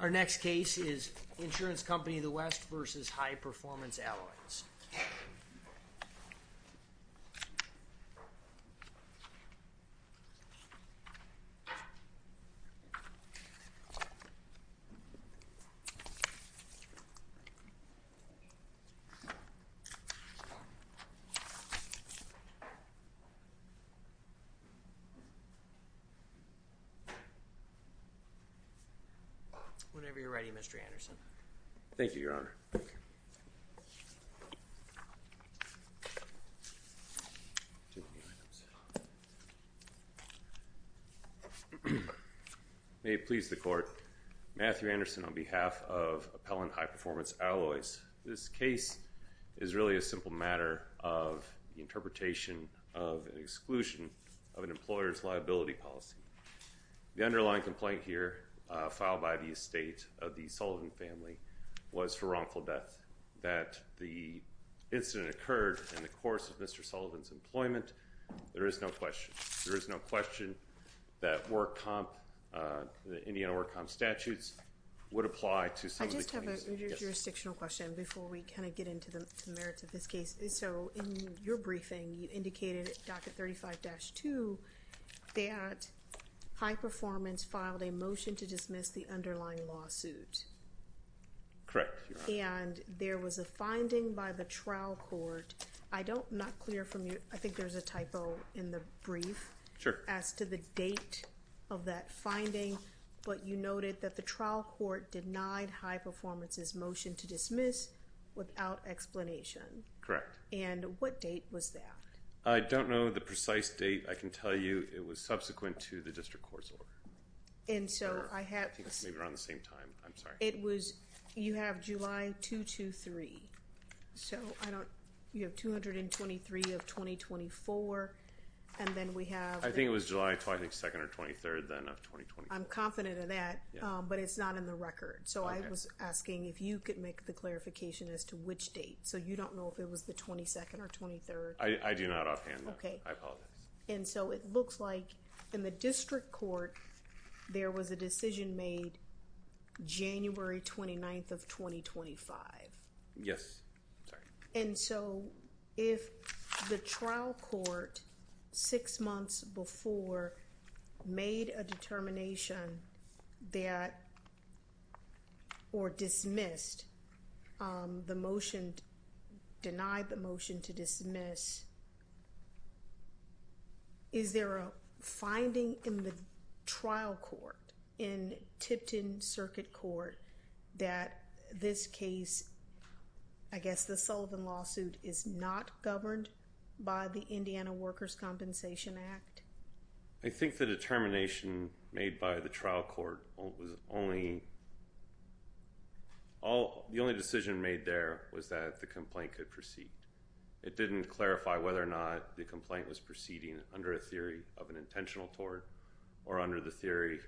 Our next case is Insurance Company of the West v. High Performance Alloys. Whenever you're ready, Mr. Anderson. Thank you, Your Honor. May it please the Court, Matthew Anderson on behalf of Appellant High Performance Alloys. This case is really a simple matter of the interpretation of an exclusion of an employer's liability policy. The underlying complaint here, filed by the estate of the Sullivan family, was for wrongful death. That the incident occurred in the course of Mr. Sullivan's employment, there is no question. There is no question that Indiana Work Comp statutes would apply to some of the cases. I just have a jurisdictional question before we kind of get into the merits of this case. So in your briefing, you indicated at Docket 35-2 that High Performance filed a motion to dismiss the underlying lawsuit. Correct, Your Honor. And there was a finding by the trial court. I don't, I'm not clear from you, I think there's a typo in the brief. Sure. As to the date of that finding, but you noted that the trial court denied High Performance's motion to dismiss without explanation. Correct. And what date was that? I don't know the precise date. I can tell you it was subsequent to the district court's order. And so I have. Maybe around the same time, I'm sorry. It was, you have July 2-2-3. So I don't, you have 223 of 2024, and then we have. I think it was July 22nd or 23rd then of 2024. I'm confident of that, but it's not in the record. So I was asking if you could make the clarification as to which date. So you don't know if it was the 22nd or 23rd? I do not offhand. Okay. I apologize. And so it looks like in the district court, there was a decision made January 29th of 2025. Yes. Sorry. And so if the trial court six months before made a determination that, or dismissed the motion, denied the motion to dismiss, is there a finding in the trial court, in Tipton Circuit Court, that this case, I guess the Sullivan lawsuit, is not governed by the Indiana Workers' Compensation Act? I think the determination made by the trial court was only, the only decision made there was that the complaint could proceed. It didn't clarify whether or not the complaint was proceeding under a theory of an intentional tort or under the theory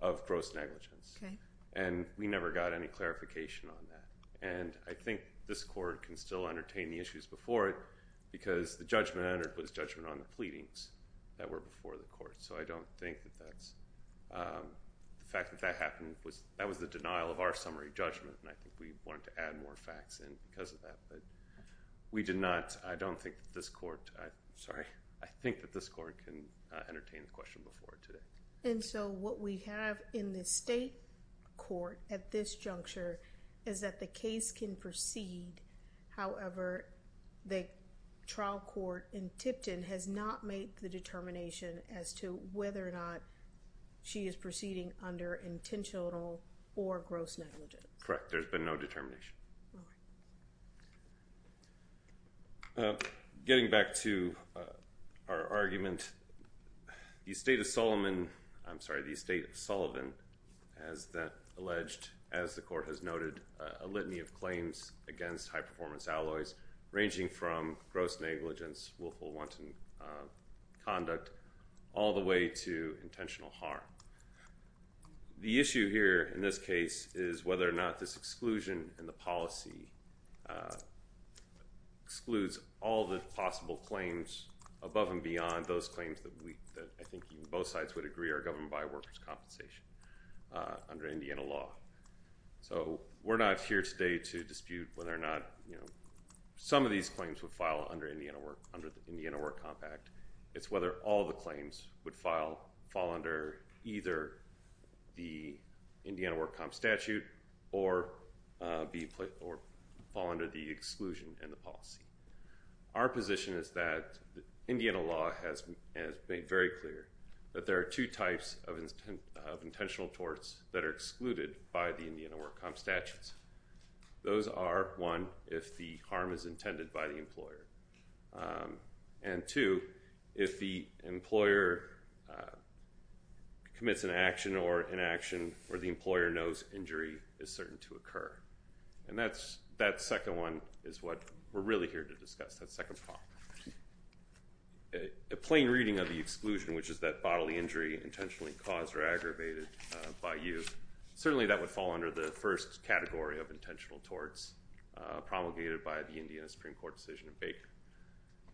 of gross negligence. Okay. And we never got any clarification on that. And I think this court can still entertain the issues before it, because the judgment entered was judgment on the pleadings that were before the court. So I don't think that that's, the fact that that happened, that was the denial of our summary judgment, and I think we wanted to add more facts in because of that. But we did not, I don't think that this court, sorry, I think that this court can entertain the question before it today. And so what we have in the state court at this juncture is that the case can proceed. However, the trial court in Tipton has not made the determination as to whether or not she is proceeding under intentional or gross negligence. There's been no determination. Okay. Getting back to our argument, the estate of Sullivan has alleged, as the court has noted, a litany of claims against high-performance alloys, ranging from gross negligence, willful wanton conduct, all the way to intentional harm. The issue here in this case is whether or not this exclusion in the policy excludes all the possible claims above and beyond those claims that I think both sides would agree are governed by workers' compensation under Indiana law. So we're not here today to dispute whether or not, you know, some of these claims would file under the Indiana Work Compact. It's whether all the claims would fall under either the Indiana Work Comp Statute or fall under the exclusion in the policy. Our position is that Indiana law has made very clear that there are two types of intentional torts that are excluded by the Indiana Work Comp Statutes. Those are, one, if the harm is intended by the employer. And two, if the employer commits an action or inaction where the employer knows injury is certain to occur. And that second one is what we're really here to discuss, that second part. A plain reading of the exclusion, which is that bodily injury intentionally caused or aggravated by you, certainly that would fall under the first category of intentional torts promulgated by the Indiana Supreme Court decision in Baker.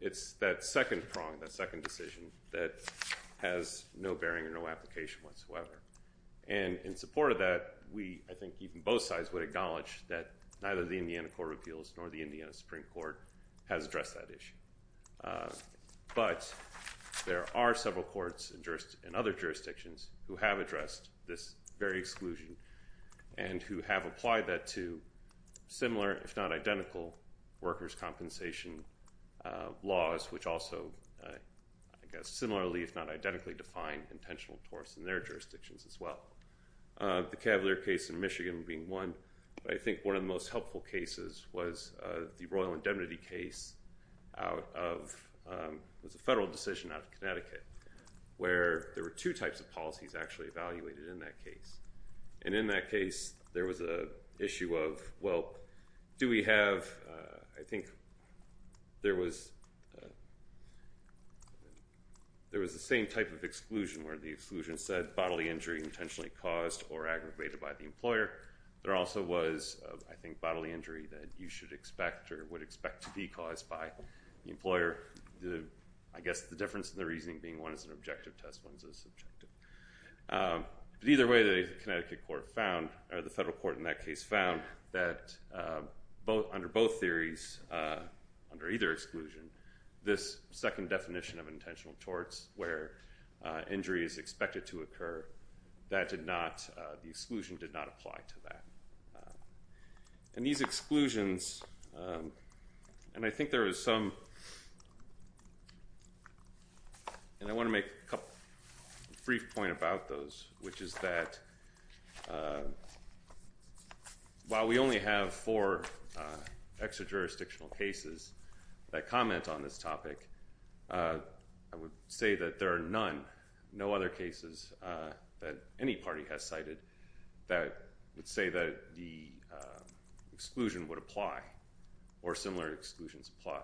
It's that second prong, that second decision, that has no bearing or no application whatsoever. And in support of that, we, I think even both sides, would acknowledge that neither the Indiana Court of Appeals nor the Indiana Supreme Court has addressed that issue. But there are several courts in other jurisdictions who have addressed this very exclusion and who have applied that to similar, if not identical, workers' compensation laws, which also, I guess, similarly, if not identically, define intentional torts in their jurisdictions as well. The Cavalier case in Michigan being one. But I think one of the most helpful cases was the Royal Indemnity case out of, it was a federal decision out of Connecticut, where there were two types of policies actually evaluated in that case. And in that case, there was a issue of, well, do we have, I think there was, there was the same type of exclusion where the exclusion said bodily injury intentionally caused or aggravated by the employer. There also was, I think, bodily injury that you should expect or would expect to be caused by the employer. I guess the difference in the reasoning being one is an objective test, one is a subjective. But either way, the Connecticut court found, or the federal court in that case found, that under both theories, under either exclusion, this second definition of intentional torts where injury is expected to occur, that did not, the exclusion did not apply to that. And these exclusions, and I think there was some, and I want to make a brief point about those, which is that while we only have four extra-jurisdictional cases that comment on this topic, I would say that there are none, no other cases that any party has cited that would say that the exclusion would apply or similar exclusions apply.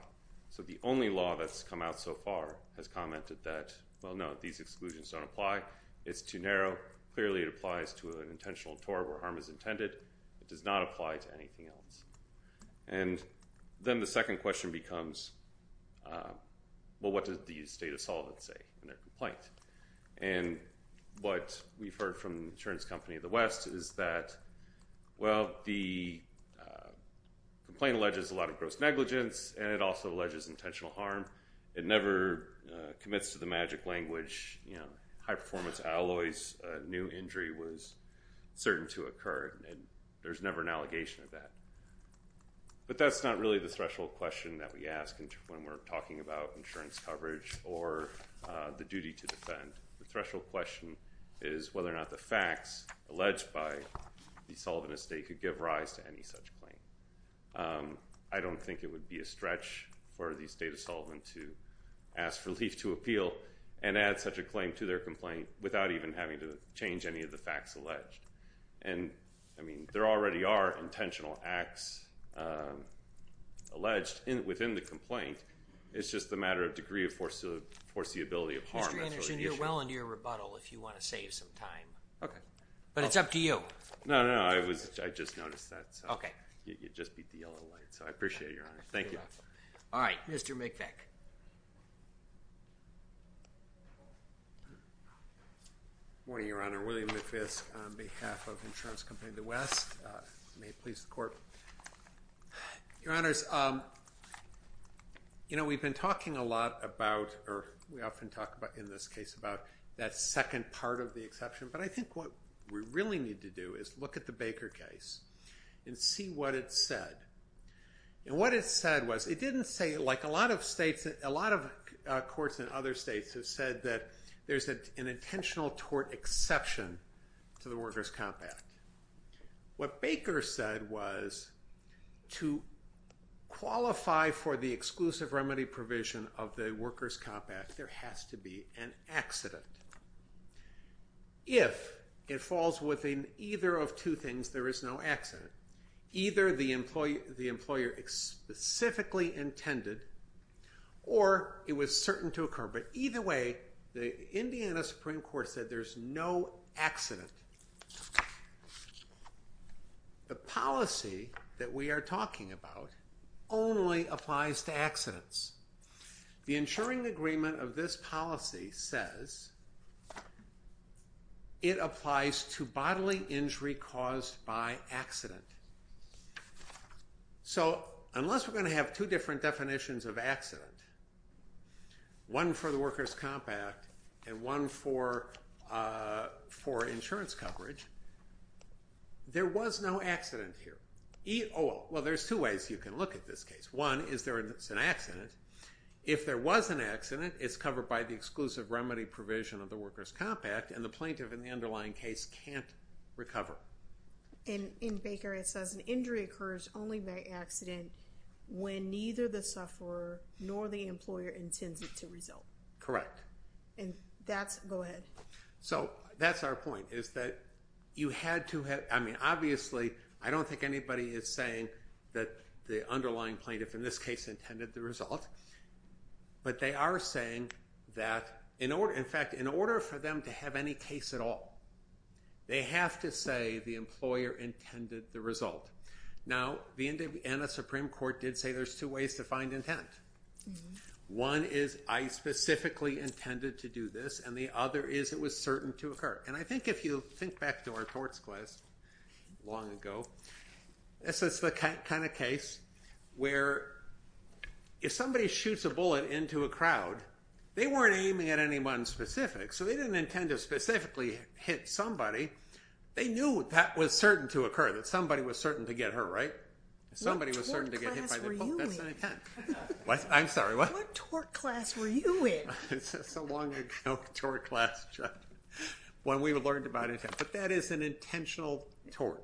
So the only law that's come out so far has commented that, well, no, these exclusions don't apply. It's too narrow. Clearly, it applies to an intentional tort where harm is intended. It does not apply to anything else. And then the second question becomes, well, what does the state of Sullivan say in their complaint? And what we've heard from the insurance company of the West is that, well, the complaint alleges a lot of gross negligence, and it also alleges intentional harm. It never commits to the magic language, you know, high-performance alloys, a new injury was certain to occur, and there's never an allegation of that. But that's not really the threshold question that we ask when we're talking about insurance coverage or the duty to defend. The threshold question is whether or not the facts alleged by the Sullivan estate could give rise to any such claim. I don't think it would be a stretch for the state of Sullivan to ask for relief to appeal and add such a claim to their complaint without even having to change any of the facts alleged. And, I mean, there already are intentional acts alleged within the complaint. It's just a matter of degree of foreseeability of harm. That's really the issue. Mr. Anderson, you're well into your rebuttal if you want to save some time. Okay. But it's up to you. No, no, no. I just noticed that. Okay. You just beat the yellow light. So I appreciate it, Your Honor. Thank you. Good luck. All right. Mr. McVick. Good morning, Your Honor. William McVick on behalf of the insurance company of the West. May it please the Court. Your Honors, you know, we've been talking a lot about, or we often talk about in this case, about that second part of the exception. But I think what we really need to do is look at the Baker case and see what it said. And what it said was, it didn't say, like a lot of states, a lot of courts in other states have said that there's an intentional tort exception to the workers' compact. What Baker said was, to qualify for the exclusive remedy provision of the workers' compact, there has to be an accident. If it falls within either of two things, there is no accident. Either the employer specifically intended, or it was certain to occur. But either way, the Indiana Supreme Court said there's no accident. The policy that we are talking about only applies to accidents. The insuring agreement of this policy says it applies to bodily injury caused by accident. So unless we're going to have two different definitions of accident, one for the workers' compact and one for insurance coverage, there was no accident here. Well, there's two ways you can look at this case. One is there is an accident. If there was an accident, it's covered by the exclusive remedy provision of the workers' compact, and the plaintiff in the underlying case can't recover. And in Baker, it says an injury occurs only by accident when neither the sufferer nor the employer intends it to result. And that's, go ahead. So that's our point, is that you had to have, I mean, obviously, I don't think anybody is saying that the underlying plaintiff in this case intended the result. But they are saying that, in fact, in order for them to have any case at all, they have to say the employer intended the result. Now, the NA Supreme Court did say there's two ways to find intent. One is I specifically intended to do this, and the other is it was certain to occur. And I think if you think back to our torts class long ago, this is the kind of case where if somebody shoots a bullet into a crowd, they weren't aiming at anyone specific, so they didn't intend to specifically hit somebody. They knew that was certain to occur, that somebody was certain to get hurt, right? Somebody was certain to get hit by the bullet. What tort class were you in? I'm sorry, what? What tort class were you in? It's a long-ago tort class, when we learned about intent. But that is an intentional tort.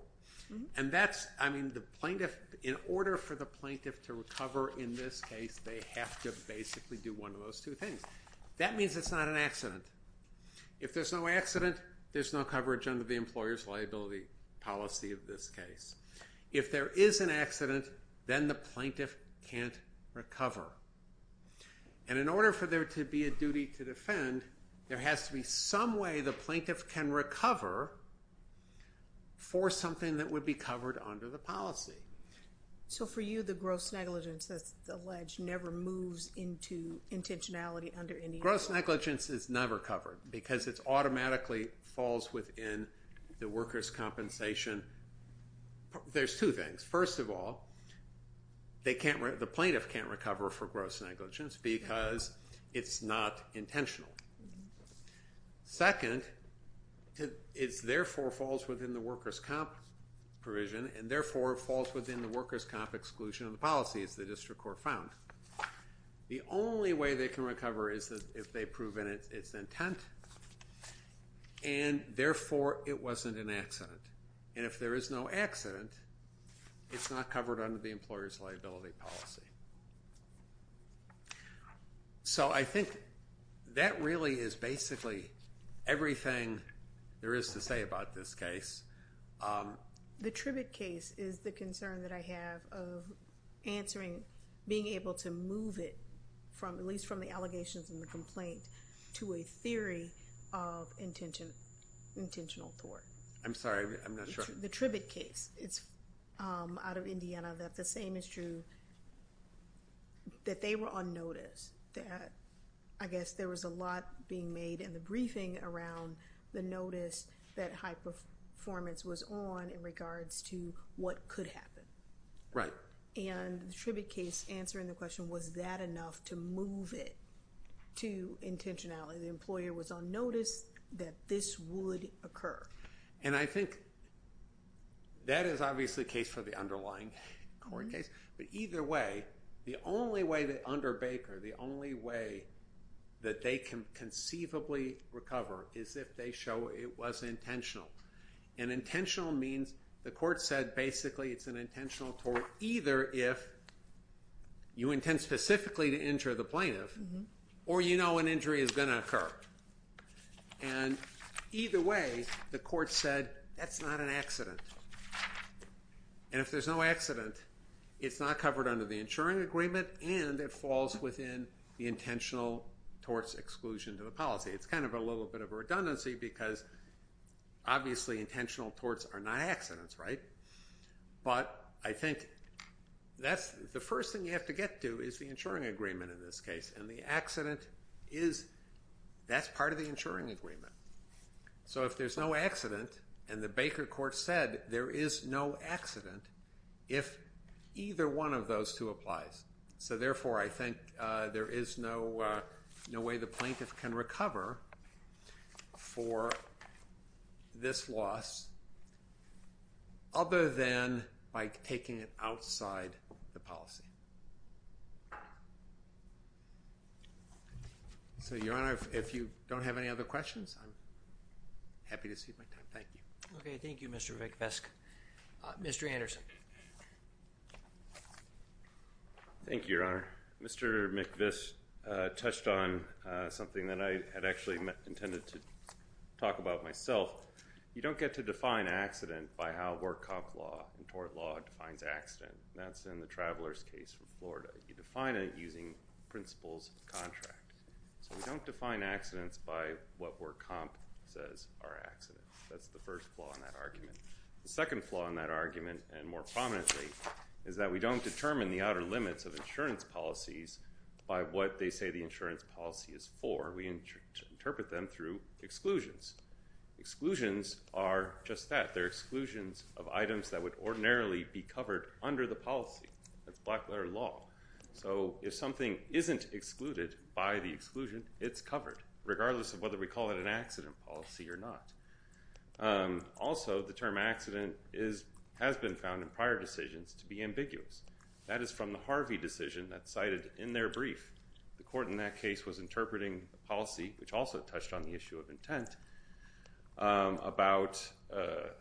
And that's, I mean, the plaintiff, in order for the plaintiff to recover in this case, they have to basically do one of those two things. That means it's not an accident. If there's no accident, there's no coverage under the employer's liability policy of this case. If there is an accident, then the plaintiff can't recover. And in order for there to be a duty to defend, there has to be some way the plaintiff can recover for something that would be covered under the policy. So for you, the gross negligence, as alleged, never moves into intentionality under any law? Gross negligence is never covered because it automatically falls within the workers' compensation. There's two things. First of all, the plaintiff can't recover for gross negligence because it's not intentional. Second, it therefore falls within the workers' comp provision and therefore falls within the workers' comp exclusion of the policy, as the district court found. The only way they can recover is if they prove in its intent and therefore it wasn't an accident. And if there is no accident, it's not covered under the employer's liability policy. So I think that really is basically everything there is to say about this case. The Tribbett case is the concern that I have of answering, being able to move it, at least from the allegations and the complaint, to a theory of intentional thwart. I'm sorry, I'm not sure. The Tribbett case, it's out of Indiana, that the same is true, that they were on notice, that I guess there was a lot being made in the briefing around the notice that high performance was on in regards to what could happen. Right. And the Tribbett case, answering the question, was that enough to move it to intentionality? The employer was on notice that this would occur. And I think that is obviously the case for the underlying court case, but either way, the only way that under Baker, the only way that they can conceivably recover is if they show it was intentional. And intentional means the court said basically it's an intentional thwart, either if you intend specifically to injure the plaintiff, or you know an injury is going to occur. And either way, the court said that's not an accident. And if there's no accident, it's not covered under the insuring agreement, and it falls within the intentional thwart's exclusion to the policy. It's kind of a little bit of a redundancy because obviously intentional thwarts are not accidents, right? But I think that's the first thing you have to get to is the insuring agreement in this case. And the accident is, that's part of the insuring agreement. So if there's no accident, and the Baker court said there is no accident, if either one of those two applies. So therefore, I think there is no way the plaintiff can recover for this loss other than by taking it outside the policy. So, Your Honor, if you don't have any other questions, I'm happy to cede my time. Thank you. Okay. Thank you, Mr. Vickvesk. Mr. Anderson. Thank you, Your Honor. Mr. Vickvesk touched on something that I had actually intended to talk about myself. You don't get to define accident by how work comp law and tort law defines accident. That's in the traveler's case from Florida. You define it using principles of contract. So we don't define accidents by what work comp says are accidents. That's the first flaw in that argument. The second flaw in that argument, and more prominently, is that we don't determine the outer limits of insurance policies by what they say the insurance policy is for. We interpret them through exclusions. Exclusions are just that. They're exclusions of items that would ordinarily be covered under the policy. That's black-letter law. So if something isn't excluded by the exclusion, it's covered, regardless of whether we call it an accident policy or not. Also, the term accident has been found in prior decisions to be ambiguous. That is from the Harvey decision that's cited in their brief. The court in that case was interpreting the policy, which also touched on the issue of intent, about the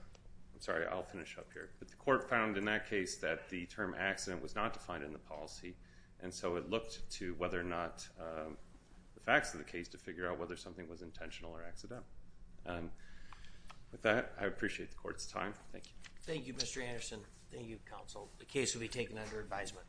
court found in that case that the term accident was not defined in the policy, and so it looked to whether or not the facts of the case to figure out whether something was intentional or accident. With that, I appreciate the court's time. Thank you. Thank you, Mr. Anderson. Thank you, counsel. The case will be taken under advisement.